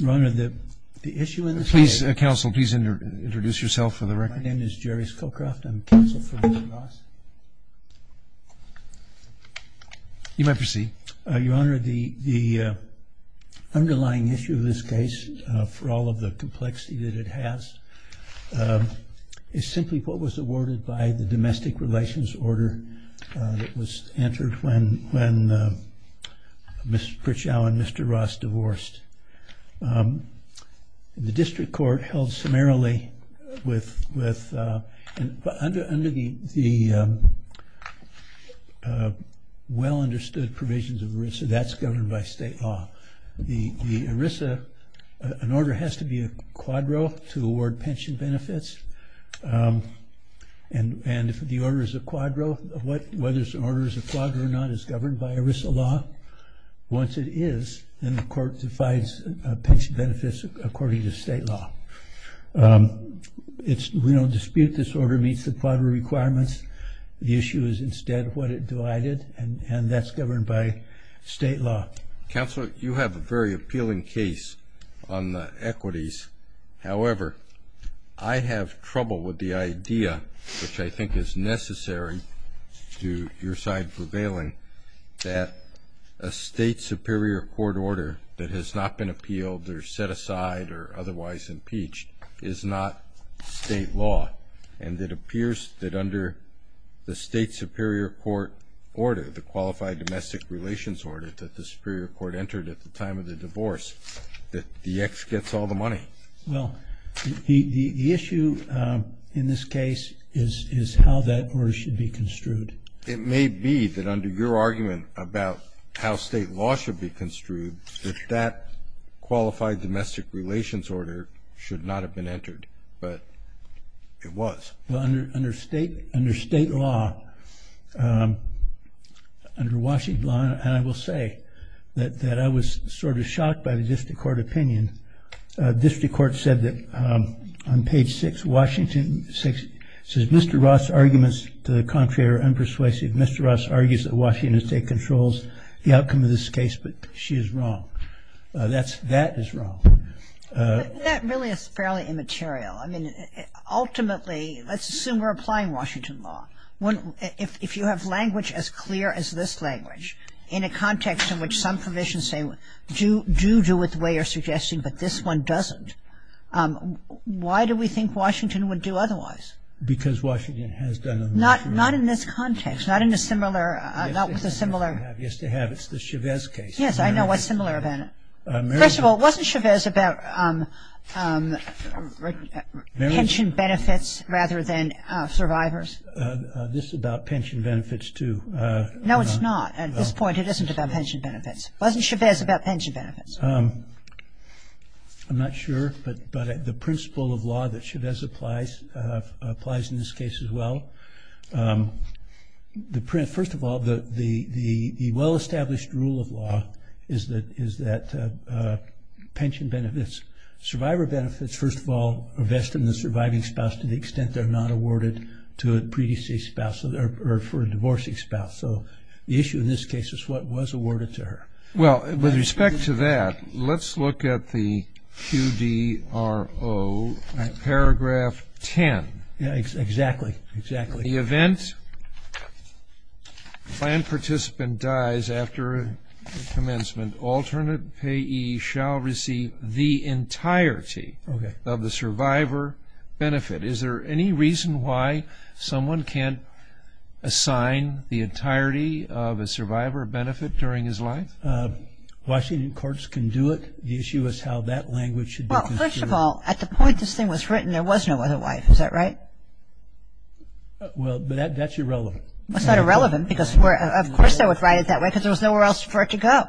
Your Honor, the underlying issue of this case, for all of the complexity that it has, is simply what was awarded by the Domestic Relations Order that was entered when Ms. Pritchow and Mr. Ross divorced. The district court held summarily with, under the well-understood provisions of ERISA, that's governed by state law. The ERISA, an order has to be a quadro to award pension benefits. And if the order is a quadro, whether the order is a quadro or not, is governed by ERISA law. Once it is, then the court defines pension benefits according to state law. We don't dispute this order meets the quadro requirements. The issue is instead what it divided, and that's governed by state law. Counsel, you have a very appealing case on the equities. However, I have trouble with the idea, which I think is necessary to your side prevailing, that a state superior court order that has not been appealed or set aside or otherwise impeached is not state law. And it appears that under the state superior court order, the Qualified Domestic Relations Order that the superior court entered at the time of the divorce, that the ex gets all the money. Well, the issue in this case is how that order should be construed. It may be that under your argument about how state law should be construed, that that Qualified Domestic Relations Order should not have been entered, but it was. Well, under state law, under Washington law, and I will say that I was sort of shocked by the district court opinion, district court said that on page 6, Washington 6, says Mr. Ross' arguments to the contrary are unpersuasive. Mr. Ross argues that Washington state controls the outcome of this case, but she is wrong. That is wrong. That really is fairly immaterial. I mean, ultimately, let's assume we're applying Washington law. If you have language as clear as this language, in a context in which some provisions say do do with the way you're suggesting, but this one doesn't, why do we think Washington would do otherwise? Because Washington has done it. Not in this context, not in a similar, not with a similar. Yes, they have. It's the Chavez case. Yes, I know. What's similar about it? First of all, wasn't Chavez about pension benefits rather than survivors? This is about pension benefits, too. No, it's not. At this point, it isn't about pension benefits. Wasn't Chavez about pension benefits? I'm not sure, but the principle of law that Chavez applies, applies in this case as well. First of all, the well-established rule of law is that pension benefits, survivor benefits, first of all, are vested in the surviving spouse to the extent they're not awarded to a pre-deceased spouse or for a divorcing spouse. So the issue in this case is what was awarded to her. Well, with respect to that, let's look at the QDRO, paragraph 10. Exactly, exactly. In the event the planned participant dies after commencement, alternate payee shall receive the entirety of the survivor benefit. Is there any reason why someone can't assign the entirety of a survivor benefit during his life? Washington courts can do it. The issue is how that language should be construed. First of all, at the point this thing was written, there was no other wife. Is that right? Well, that's irrelevant. It's not irrelevant because of course they would write it that way because there was nowhere else for it to go.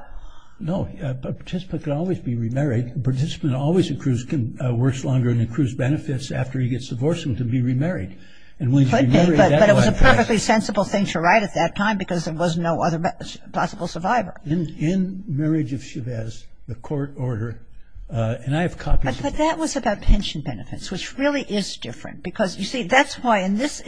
No, a participant can always be remarried. A participant always works longer and accrues benefits after he gets divorced and can be remarried. Could be, but it was a perfectly sensible thing to write at that time because there was no other possible survivor. In Marriage of Chavez, the court order, and I have copies of it. But that was about pension benefits, which really is different because, you see, that's why in this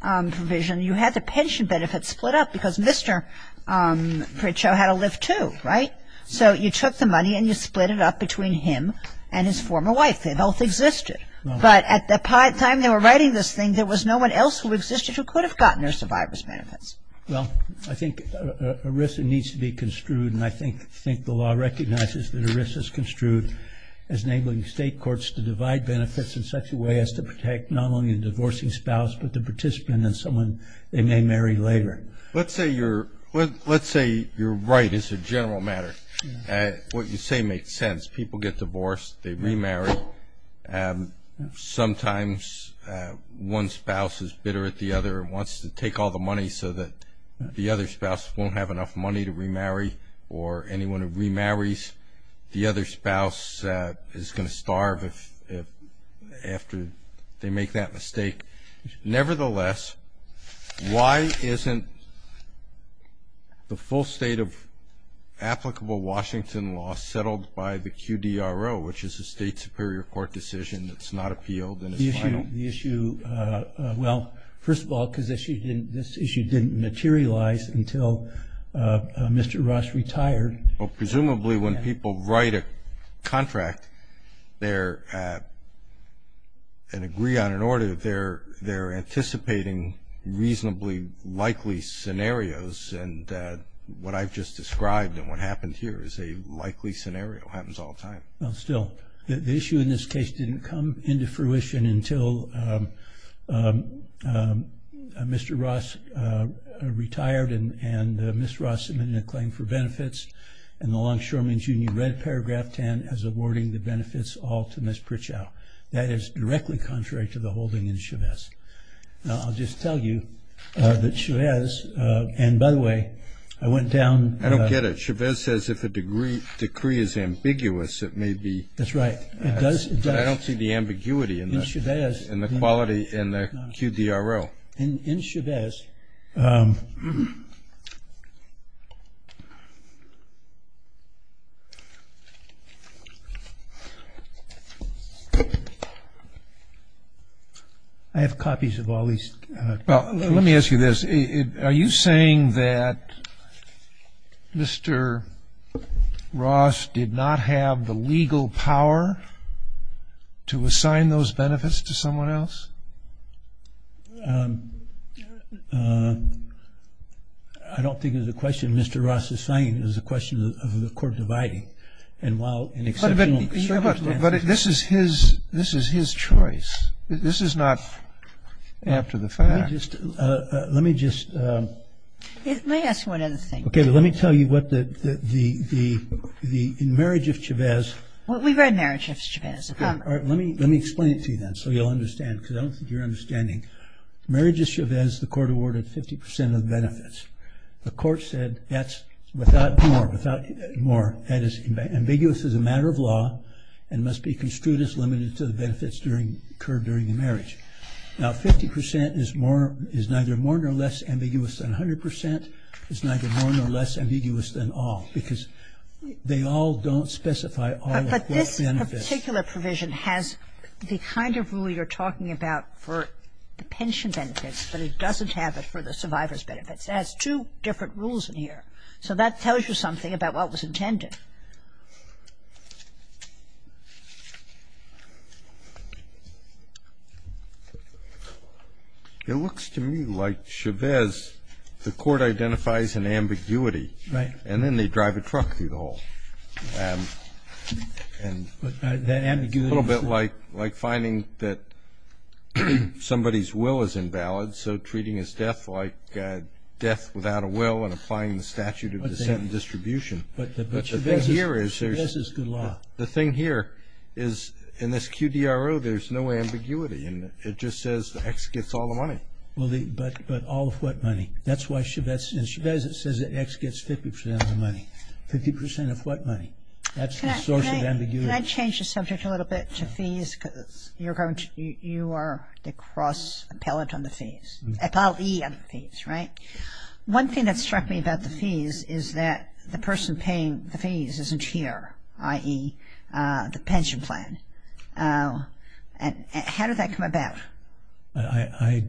provision you had the pension benefits split up because Mr. Pritchett had to live too, right? So you took the money and you split it up between him and his former wife. They both existed, but at the time they were writing this thing, there was no one else who existed who could have gotten their survivor's benefits. Well, I think ERISA needs to be construed, and I think the law recognizes that ERISA is construed as enabling state courts to divide benefits in such a way as to protect not only the divorcing spouse but the participant and someone they may marry later. Let's say you're right. It's a general matter. What you say makes sense. People get divorced, they remarry. Sometimes one spouse is bitter at the other and wants to take all the money so that the other spouse won't have enough money to remarry or anyone who remarries the other spouse is going to starve after they make that mistake. Nevertheless, why isn't the full state of applicable Washington law settled by the QDRO, which is a state superior court decision that's not appealed and is final? Well, first of all, because this issue didn't materialize until Mr. Rush retired. Well, presumably when people write a contract and agree on an order, they're anticipating reasonably likely scenarios, and what I've just described and what happened here is a likely scenario. It happens all the time. Well, still, the issue in this case didn't come into fruition until Mr. Rush retired and Ms. Rush submitted a claim for benefits, and the Longshoremen's Union read paragraph 10 as awarding the benefits all to Ms. Pritchett. That is directly contrary to the holding in Chavez. Now, I'll just tell you that Chavez, and by the way, I went down... I get it. Chavez says if a decree is ambiguous, it may be. That's right. But I don't see the ambiguity in the quality in the QDRO. In Chavez... I have copies of all these. Well, let me ask you this. Are you saying that Mr. Rush did not have the legal power to assign those benefits to someone else? I don't think it's a question Mr. Rush is saying. It's a question of the court dividing. But this is his choice. This is not after the fact. Let me just... Let me ask you one other thing. Okay, but let me tell you what the... In Marriage of Chavez... We've read Marriage of Chavez. All right, let me explain it to you then so you'll understand, because I don't think you're understanding. Marriage of Chavez, the court awarded 50% of the benefits. The court said that's without more, that is ambiguous as a matter of law and must be construed as limited to the benefits occurred during the marriage. Now, 50% is neither more nor less ambiguous than 100%. It's neither more nor less ambiguous than all, because they all don't specify all of the benefits. But this particular provision has the kind of rule you're talking about for the pension benefits, but it doesn't have it for the survivor's benefits. It has two different rules in here. So that tells you something about what was intended. It looks to me like Chavez, the court identifies an ambiguity. Right. And then they drive a truck through the hall. That ambiguity... It's a little bit like finding that somebody's will is invalid, so treating his death like death without a will and applying the statute of descent and distribution. But Chavez's good law. The thing here is in this QDRO, there's no ambiguity in it. It just says X gets all the money. But all of what money? That's why in Chavez it says that X gets 50% of the money. 50% of what money? That's the source of ambiguity. Can I change the subject a little bit to fees? You are the cross appellate on the fees. Appellee on the fees, right? One thing that struck me about the fees is that the person paying the fees isn't here, i.e., the pension plan. How did that come about? I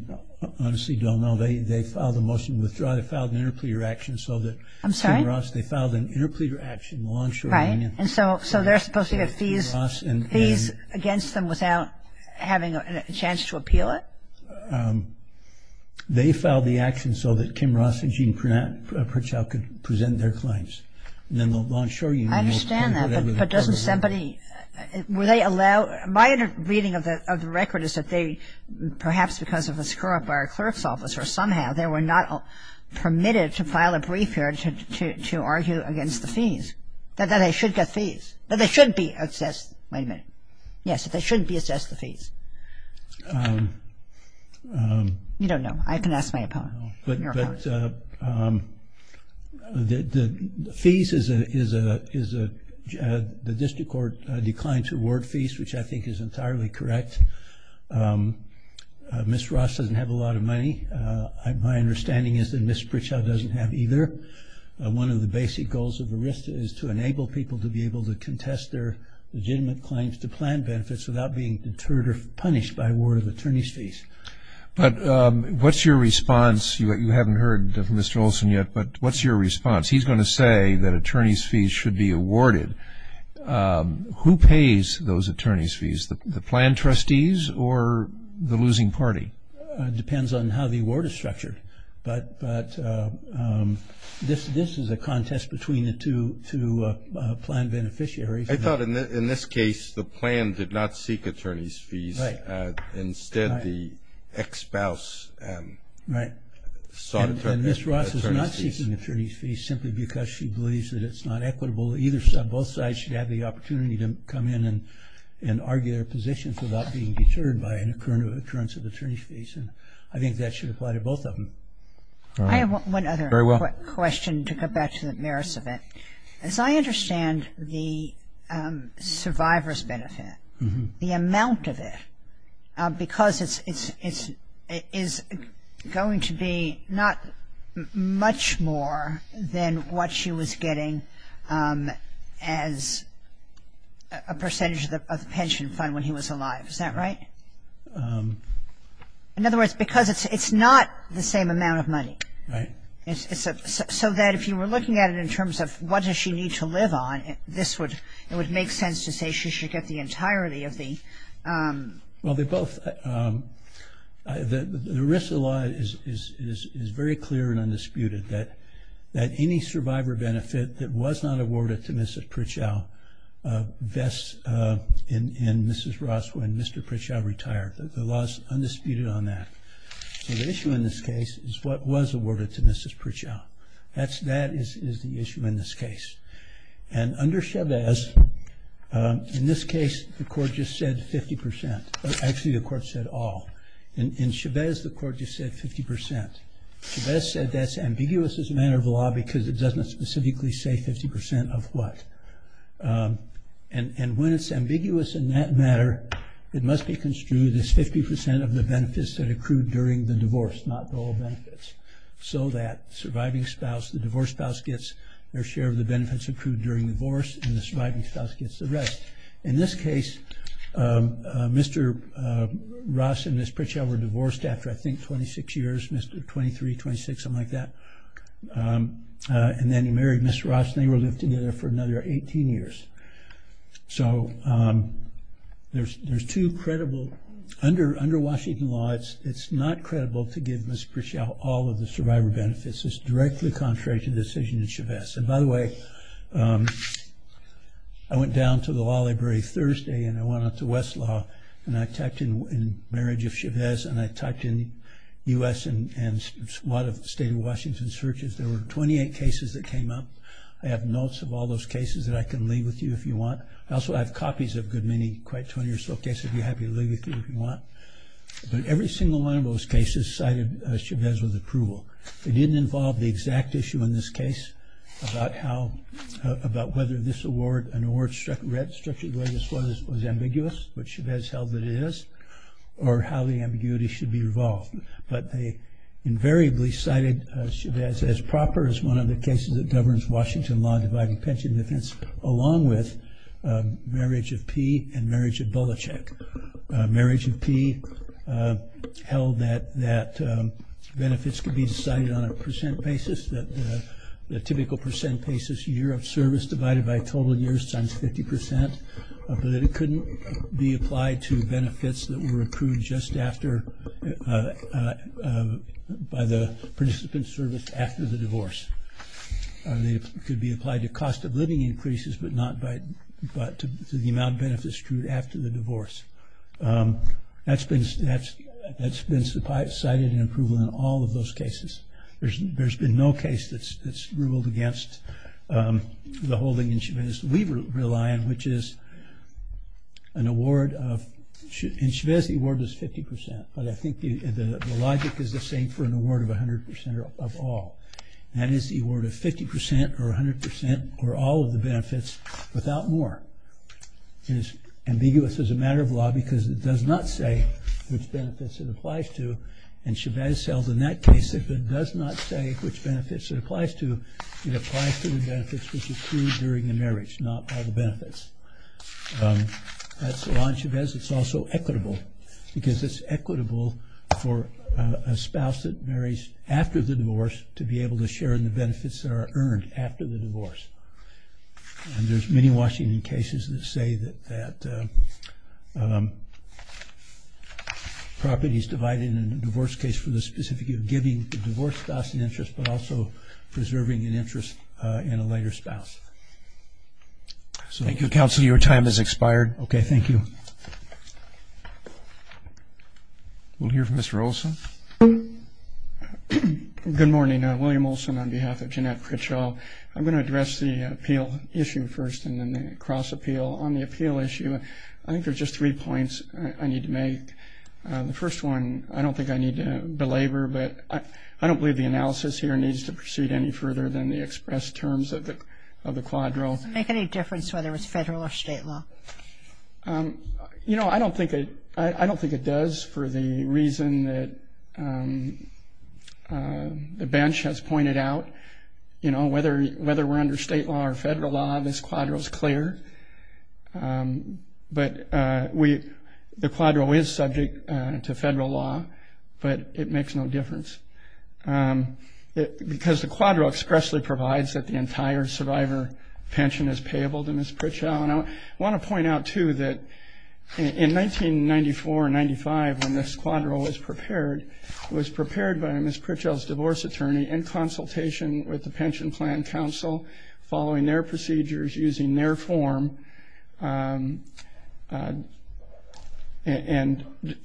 honestly don't know. They filed a motion to withdraw. They filed an interpleader action so that... I'm sorry? They filed an interpleader action. So they're supposed to get fees against them without having a chance to appeal it? They filed the action so that Kim Ross and Gene Pritchard could present their claims. I understand that, but doesn't somebody... Were they allowed... My reading of the record is that they, perhaps because of a screw-up by our clerk's office or somehow they were not permitted to file a brief here to argue against the fees, that they should get fees, that they shouldn't be assessed... Wait a minute. Yes, that they shouldn't be assessed the fees. You don't know. I can ask my opponent. But the fees is a... The district court declined to award fees, which I think is entirely correct. Ms. Ross doesn't have a lot of money. My understanding is that Ms. Pritchard doesn't have either. One of the basic goals of the RISD is to enable people to be able to contest their legitimate claims to plan benefits without being deterred or punished by award of attorney's fees. But what's your response? You haven't heard from Mr. Olson yet, but what's your response? He's going to say that attorney's fees should be awarded. Who pays those attorney's fees? The plan trustees or the losing party? It depends on how the award is structured. But this is a contest between the two plan beneficiaries. I thought in this case the plan did not seek attorney's fees. Right. Instead, the ex-spouse sought attorney's fees. Ms. Ross is not seeking attorney's fees simply because she believes that it's not equitable. Either side, both sides should have the opportunity to come in and argue their positions without being deterred by an occurrence of attorney's fees. And I think that should apply to both of them. I have one other question to go back to the merits of it. As I understand the survivor's benefit, the amount of it, because it's going to be not much more than what she was getting as a percentage of the pension fund when he was alive, is that right? In other words, because it's not the same amount of money. Right. So that if you were looking at it in terms of what does she need to live on, this would make sense to say she should get the entirety of the ______. Well, the risk of the law is very clear and undisputed, that any survivor benefit that was not awarded to Mrs. Pritchell vests in Mrs. Ross when Mr. Pritchell retired. The law is undisputed on that. So the issue in this case is what was awarded to Mrs. Pritchell. That is the issue in this case. And under Chávez, in this case, the court just said 50 percent. Actually, the court said all. In Chávez, the court just said 50 percent. Chávez said that's ambiguous as a matter of law because it doesn't specifically say 50 percent of what. And when it's ambiguous in that matter, it must be construed as 50 percent of the benefits that accrued during the divorce, not the whole benefits, so that the divorce spouse gets their share of the benefits accrued during the divorce and the surviving spouse gets the rest. In this case, Mr. Ross and Mrs. Pritchell were divorced after, I think, 26 years, 23, 26, something like that. And then he married Mrs. Ross and they lived together for another 18 years. So there's two credible, under Washington law, it's not credible to give Mrs. Pritchell all of the survivor benefits. It's directly contrary to the decision in Chávez. And by the way, I went down to the law library Thursday and I went up to Westlaw and I typed in marriage of Chávez and I typed in U.S. and a lot of state of Washington searches. There were 28 cases that came up. I have notes of all those cases that I can leave with you if you want. I also have copies of good many, quite 20 or so cases I'd be happy to leave with you if you want. But every single one of those cases cited Chávez with approval. It didn't involve the exact issue in this case about how, about whether this award, an award structured the way this was, was ambiguous, which Chávez held that it is, or how the ambiguity should be revolved. But they invariably cited Chávez as proper, as one of the cases that governs Washington law dividing pension defense, along with marriage of Pee and marriage of Bolichek. Marriage of Pee held that benefits could be decided on a percent basis, that the typical percent basis year of service divided by total years times 50 percent, but that it couldn't be applied to benefits that were approved just after, by the participant's service after the divorce. It could be applied to cost of living increases, but not to the amount of benefits accrued after the divorce. That's been cited in approval in all of those cases. There's been no case that's ruled against the holding in Chávez that we rely on, which is an award of, in Chávez the award was 50 percent, but I think the logic is the same for an award of 100 percent or of all. That is the award of 50 percent or 100 percent or all of the benefits without more. It is ambiguous as a matter of law because it does not say which benefits it applies to, and Chávez held in that case that if it does not say which benefits it applies to, it applies to the benefits which were accrued during the marriage, not all the benefits. That's why in Chávez it's also equitable, because it's equitable for a spouse that marries after the divorce to be able to share in the benefits that are earned after the divorce. And there's many Washington cases that say that properties divided in a divorce case for the specificity of giving the divorce spouse an interest, but also preserving an interest in a later spouse. Thank you, Counselor. Your time has expired. Okay, thank you. We'll hear from Mr. Olson. Good morning. William Olson on behalf of Jeanette Critchell. I'm going to address the appeal issue first and then the cross-appeal. On the appeal issue, I think there's just three points I need to make. The first one, I don't think I need to belabor, but I don't believe the analysis here needs to proceed any further than the expressed terms of the quadro. Does it make any difference whether it's federal or state law? You know, I don't think it does for the reason that the bench has pointed out. You know, whether we're under state law or federal law, this quadro is clear. But the quadro is subject to federal law, but it makes no difference. Because the quadro expressly provides that the entire survivor pension is payable to Ms. Critchell. And I want to point out, too, that in 1994-95, when this quadro was prepared, it was prepared by Ms. Critchell's divorce attorney in consultation with the Pension Plan Council, following their procedures, using their form, and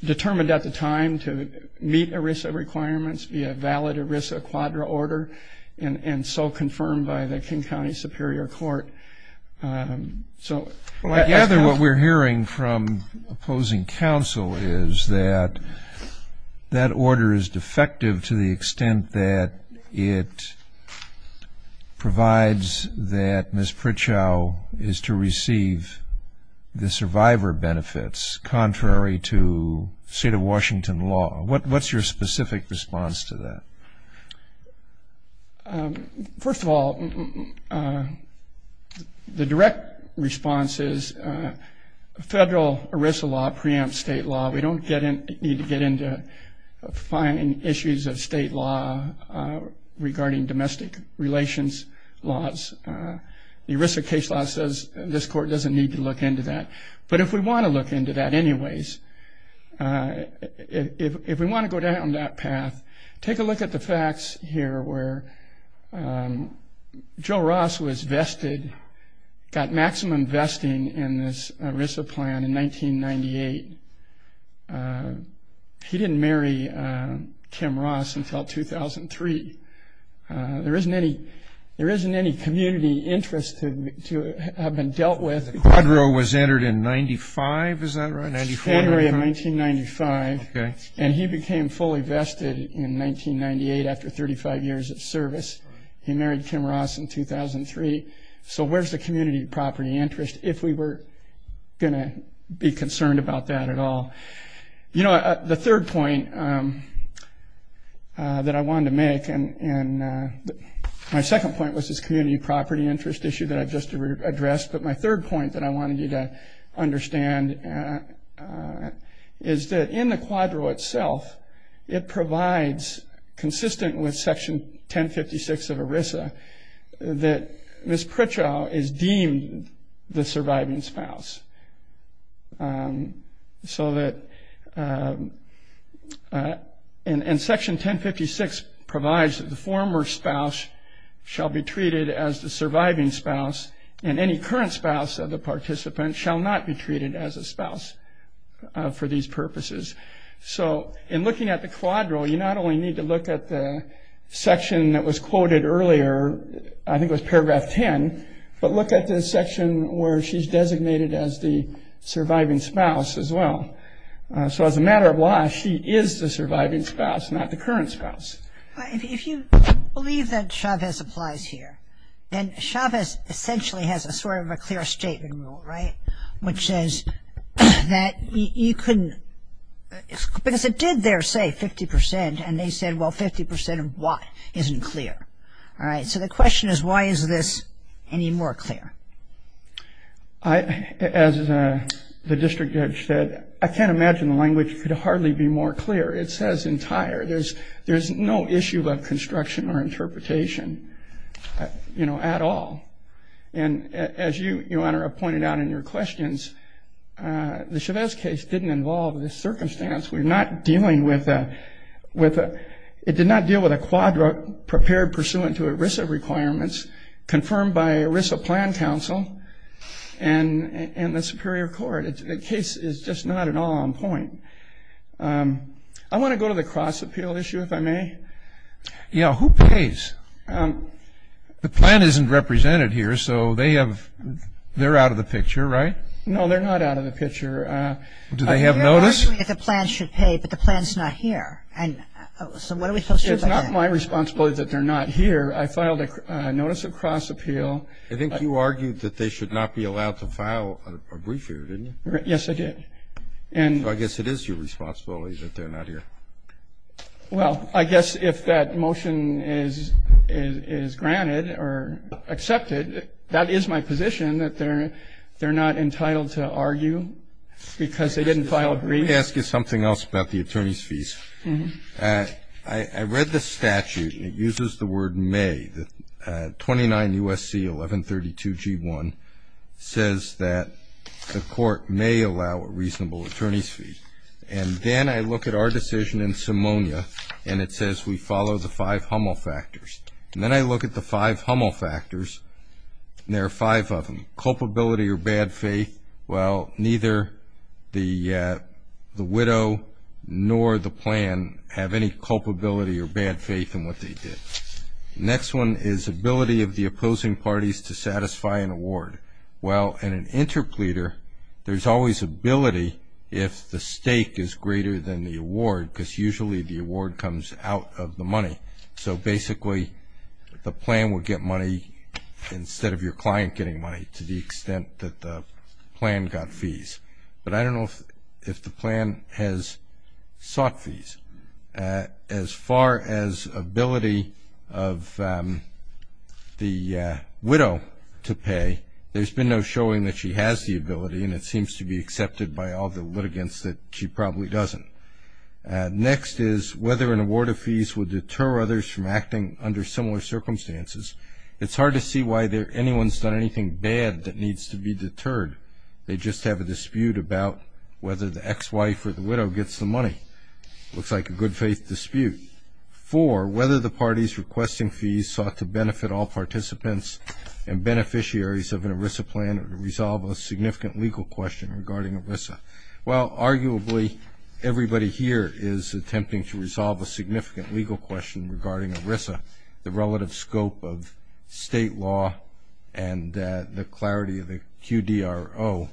determined at the time to meet ERISA requirements, be a valid ERISA quadro order, and so confirmed by the King County Superior Court. I gather what we're hearing from opposing counsel is that that order is defective to the extent that it provides that Ms. Critchell is to receive the survivor benefits, contrary to state of Washington law. What's your specific response to that? First of all, the direct response is federal ERISA law preempts state law. We don't need to get into finding issues of state law regarding domestic relations laws. The ERISA case law says this court doesn't need to look into that. But if we want to look into that anyways, if we want to go down that path, take a look at the facts here where Joe Ross was vested, got maximum vesting in this ERISA plan in 1998. He didn't marry Kim Ross until 2003. There isn't any community interest to have been dealt with. The quadro was entered in 95, is that right? January of 1995, and he became fully vested in 1998 after 35 years of service. He married Kim Ross in 2003. So where's the community property interest if we were going to be concerned about that at all? You know, the third point that I wanted to make, and my second point was this community property interest issue that I just addressed, but my third point that I wanted you to understand is that in the quadro itself, it provides, consistent with Section 1056 of ERISA, that Ms. Pritchard is deemed the surviving spouse. And Section 1056 provides that the former spouse shall be treated as the surviving spouse, and any current spouse of the participant shall not be treated as a spouse for these purposes. So in looking at the quadro, you not only need to look at the section that was quoted earlier, I think it was Paragraph 10, but look at the section where she's designated as the surviving spouse as well. So as a matter of law, she is the surviving spouse, not the current spouse. If you believe that Chavez applies here, then Chavez essentially has a sort of a clear statement rule, right, which says that you can, because it did there say 50%, and they said, well, 50% of what isn't clear? All right, so the question is, why is this any more clear? As the district judge said, I can't imagine the language could hardly be more clear. It says entire. There's no issue of construction or interpretation, you know, at all. And as you, Your Honor, have pointed out in your questions, the Chavez case didn't involve this circumstance. We're not dealing with a, it did not deal with a quadro prepared pursuant to ERISA requirements confirmed by ERISA plan counsel and the superior court. The case is just not at all on point. I want to go to the cross-appeal issue, if I may. Yeah, who pays? The plan isn't represented here, so they have, they're out of the picture, right? No, they're not out of the picture. Do they have notice? You're arguing that the plan should pay, but the plan's not here. And so what are we supposed to do about that? It's not my responsibility that they're not here. I filed a notice of cross-appeal. I think you argued that they should not be allowed to file a brief here, didn't you? Yes, I did. So I guess it is your responsibility that they're not here. Well, I guess if that motion is granted or accepted, that is my position that they're not entitled to argue because they didn't file a brief. Let me ask you something else about the attorney's fees. I read the statute, and it uses the word may. 29 U.S.C. 1132-G1 says that the court may allow a reasonable attorney's fee. And then I look at our decision in Simonia, and it says we follow the five Hummel factors. And then I look at the five Hummel factors, and there are five of them, culpability or bad faith. Well, neither the widow nor the plan have any culpability or bad faith in what they did. The next one is ability of the opposing parties to satisfy an award. Well, in an interpleader, there's always ability if the stake is greater than the award because usually the award comes out of the money. So basically, the plan will get money instead of your client getting money to the extent that the plan got fees. But I don't know if the plan has sought fees. As far as ability of the widow to pay, there's been no showing that she has the ability, and it seems to be accepted by all the litigants that she probably doesn't. Next is whether an award of fees will deter others from acting under similar circumstances. It's hard to see why anyone's done anything bad that needs to be deterred. They just have a dispute about whether the ex-wife or the widow gets the money. It looks like a good faith dispute. Four, whether the parties requesting fees sought to benefit all participants and beneficiaries of an ERISA plan or to resolve a significant legal question regarding ERISA. Well, arguably, everybody here is attempting to resolve a significant legal question regarding ERISA, the relative scope of state law and the clarity of the QDRO.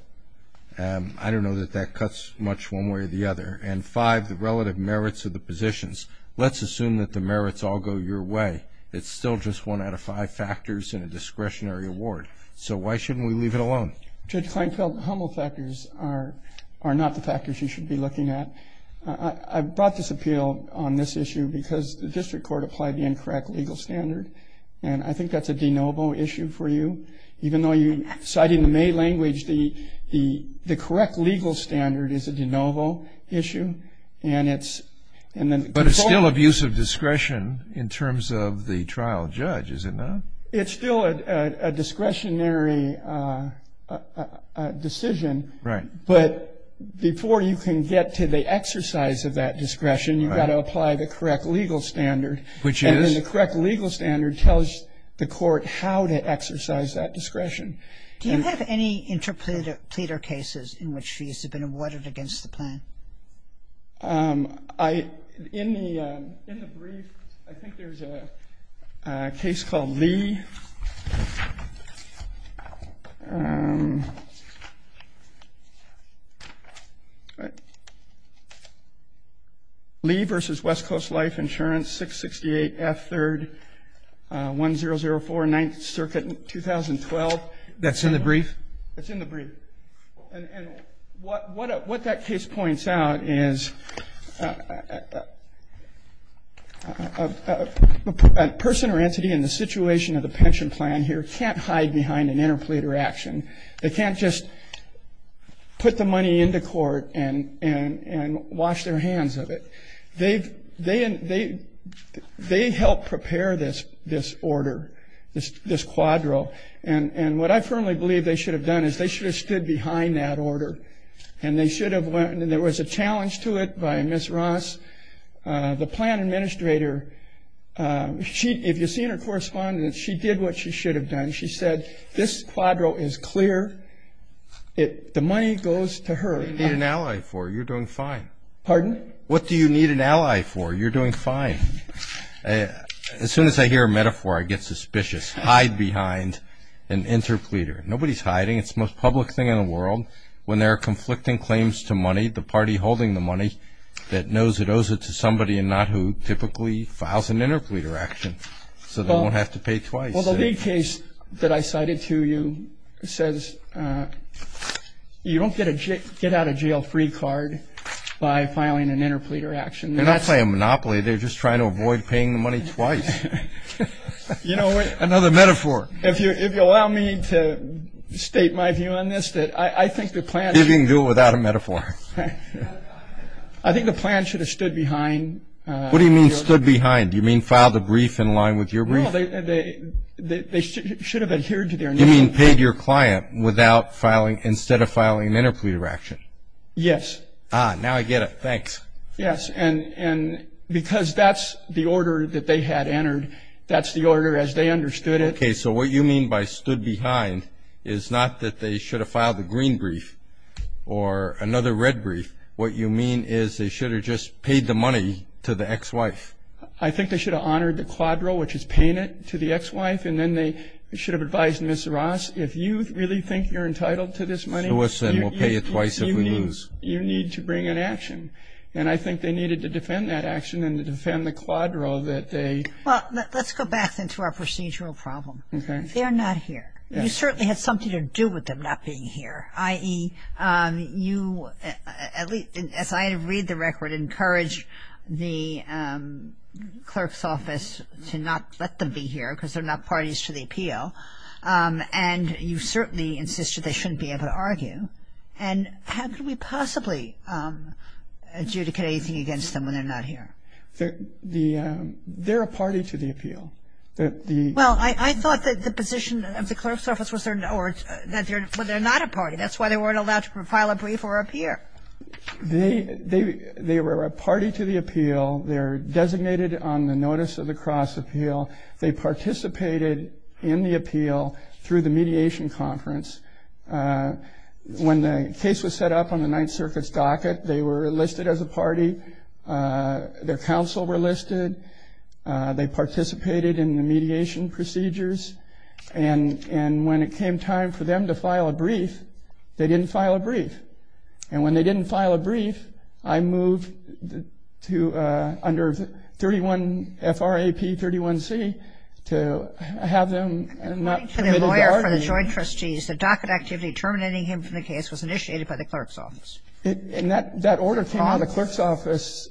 I don't know that that cuts much one way or the other. And five, the relative merits of the positions. Let's assume that the merits all go your way. It's still just one out of five factors in a discretionary award. So why shouldn't we leave it alone? Judge Kleinfeld, the humble factors are not the factors you should be looking at. I brought this appeal on this issue because the district court applied the incorrect legal standard, and I think that's a de novo issue for you. Citing the May language, the correct legal standard is a de novo issue. But it's still abuse of discretion in terms of the trial judge, is it not? It's still a discretionary decision. Right. But before you can get to the exercise of that discretion, you've got to apply the correct legal standard. Which is? The correct legal standard tells the court how to exercise that discretion. Do you have any interpleader cases in which she's been awarded against the plan? In the brief, I think there's a case called Lee. Lee v. West Coast Life Insurance, 668F 3rd, 1004, 9th Circuit, 2012. That's in the brief? That's in the brief. And what that case points out is a person or entity in the situation of the pension plan here They can't hide behind an interpleader action. They can't just put the money into court and wash their hands of it. They help prepare this order, this quadro. And what I firmly believe they should have done is they should have stood behind that order, and there was a challenge to it by Ms. Ross, the plan administrator. If you've seen her correspondence, she did what she should have done. She said, this quadro is clear. The money goes to her. What do you need an ally for? You're doing fine. Pardon? What do you need an ally for? You're doing fine. As soon as I hear a metaphor, I get suspicious. Hide behind an interpleader. Nobody's hiding. It's the most public thing in the world. When there are conflicting claims to money, the party holding the money that knows it owes it to somebody and not who typically files an interpleader action, so they won't have to pay twice. Well, the lead case that I cited to you says you don't get out of jail free card by filing an interpleader action. They're not playing a monopoly. They're just trying to avoid paying the money twice. Another metaphor. If you'll allow me to state my view on this, that I think the plan should be. See if you can do it without a metaphor. I think the plan should have stood behind. What do you mean stood behind? Do you mean filed a brief in line with your brief? No, they should have adhered to their name. You mean paid your client without filing, instead of filing an interpleader action? Yes. Ah, now I get it. Thanks. Yes, and because that's the order that they had entered, that's the order as they understood it. Okay, so what you mean by stood behind is not that they should have filed a green brief or another red brief. What you mean is they should have just paid the money to the ex-wife. I think they should have honored the quadro, which is paying it to the ex-wife, and then they should have advised Ms. Ross, if you really think you're entitled to this money. Sue us and we'll pay you twice if we lose. You need to bring an action. And I think they needed to defend that action and to defend the quadro that they. Well, let's go back then to our procedural problem. They're not here. You certainly had something to do with them not being here, i.e., you, as I read the record, encouraged the clerk's office to not let them be here because they're not parties to the appeal, and you certainly insisted they shouldn't be able to argue. And how could we possibly adjudicate anything against them when they're not here? They're a party to the appeal. Well, I thought that the position of the clerk's office was that they're not a party. That's why they weren't allowed to file a brief or appear. They were a party to the appeal. They're designated on the notice of the cross appeal. They participated in the appeal through the mediation conference. When the case was set up on the Ninth Circuit's docket, they were listed as a party. Their counsel were listed. They participated in the mediation procedures. And when it came time for them to file a brief, they didn't file a brief. And when they didn't file a brief, I moved under FRAP 31C to have them not be able to argue. According to the lawyer for the joint trustees, the docket activity terminating him from the case was initiated by the clerk's office. And that order came out of the clerk's office.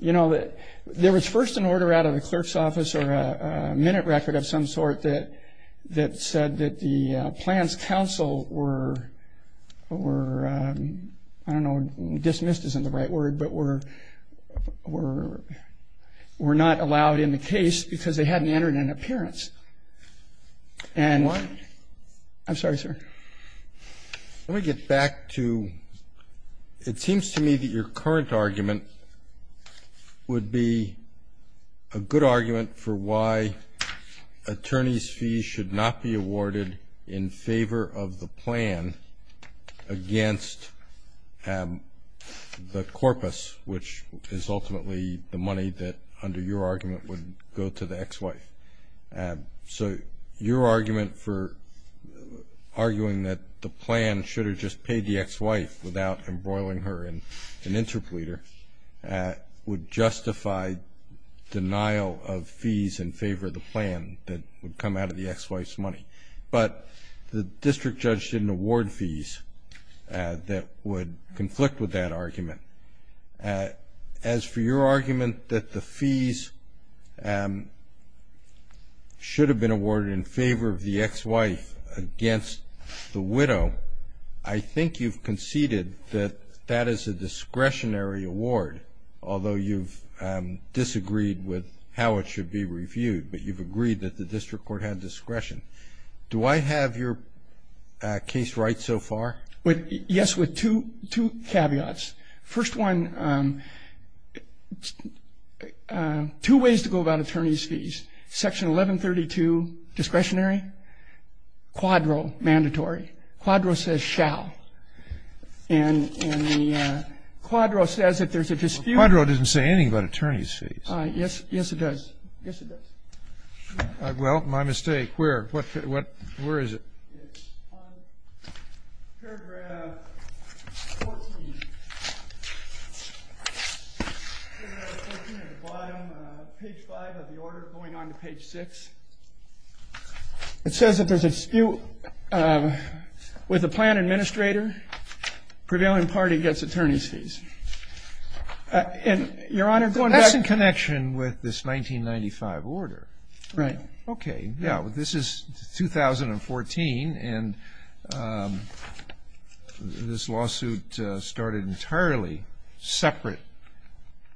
You know, there was first an order out of the clerk's office or a minute record of some sort that said that the plans counsel were, I don't know, dismissed isn't the right word, but were not allowed in the case because they hadn't entered an appearance. And I'm sorry, sir. Let me get back to it seems to me that your current argument would be a good argument for why attorney's fees should not be awarded in favor of the plan against the corpus, which is ultimately the money that under your argument would go to the ex-wife. So your argument for arguing that the plan should have just paid the ex-wife without embroiling her in an interpleader would justify denial of fees in favor of the plan that would come out of the ex-wife's money. But the district judge didn't award fees that would conflict with that argument. As for your argument that the fees should have been awarded in favor of the ex-wife against the widow, I think you've conceded that that is a discretionary award, although you've disagreed with how it should be reviewed, but you've agreed that the district court had discretion. Do I have your case right so far? Yes, with two caveats. First one, two ways to go about attorney's fees. Section 1132 discretionary, quadro mandatory. Quadro says shall. And the quadro says that there's a dispute. Quadro doesn't say anything about attorney's fees. Yes, it does. Yes, it does. Well, my mistake. Where? Where is it? It's on paragraph 14, page 5 of the order going on to page 6. It says that there's a dispute with the plan administrator, prevailing party gets attorney's fees. That's in connection with this 1995 order. Right. Okay. Now, this is 2014, and this lawsuit started entirely separate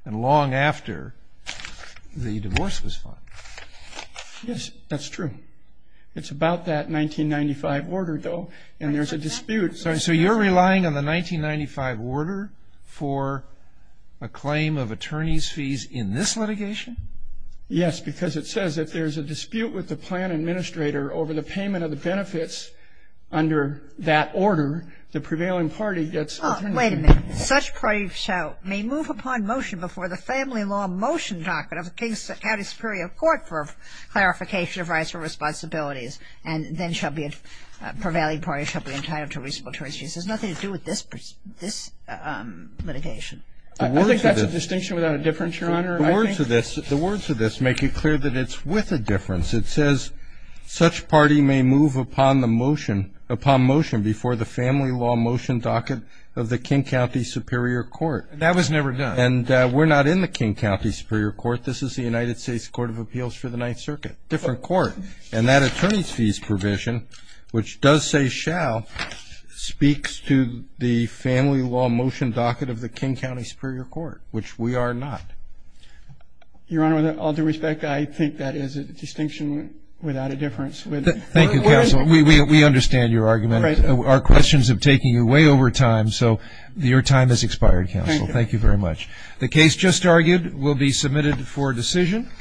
and long after the divorce was filed. Yes, that's true. It's about that 1995 order, though, and there's a dispute. So you're relying on the 1995 order for a claim of attorney's fees in this litigation? Yes, because it says if there's a dispute with the plan administrator over the payment of the benefits under that order, the prevailing party gets attorney's fees. Wait a minute. Such party shall move upon motion before the family law motion document of the King County Superior Court for clarification of rights and responsibilities, and then shall be a prevailing party shall be entitled to reasonable attorney's fees. It has nothing to do with this litigation. I think that's a distinction without a difference, Your Honor. The words of this make it clear that it's with a difference. It says such party may move upon the motion, upon motion before the family law motion docket of the King County Superior Court. That was never done. And we're not in the King County Superior Court. This is the United States Court of Appeals for the Ninth Circuit, different court. And that attorney's fees provision, which does say shall, speaks to the family law motion docket of the King County Superior Court, which we are not. Your Honor, with all due respect, I think that is a distinction without a difference. Thank you, Counsel. We understand your argument. Our questions have taken you way over time, so your time has expired, Counsel. Thank you. Thank you very much. The case just argued will be submitted for decision.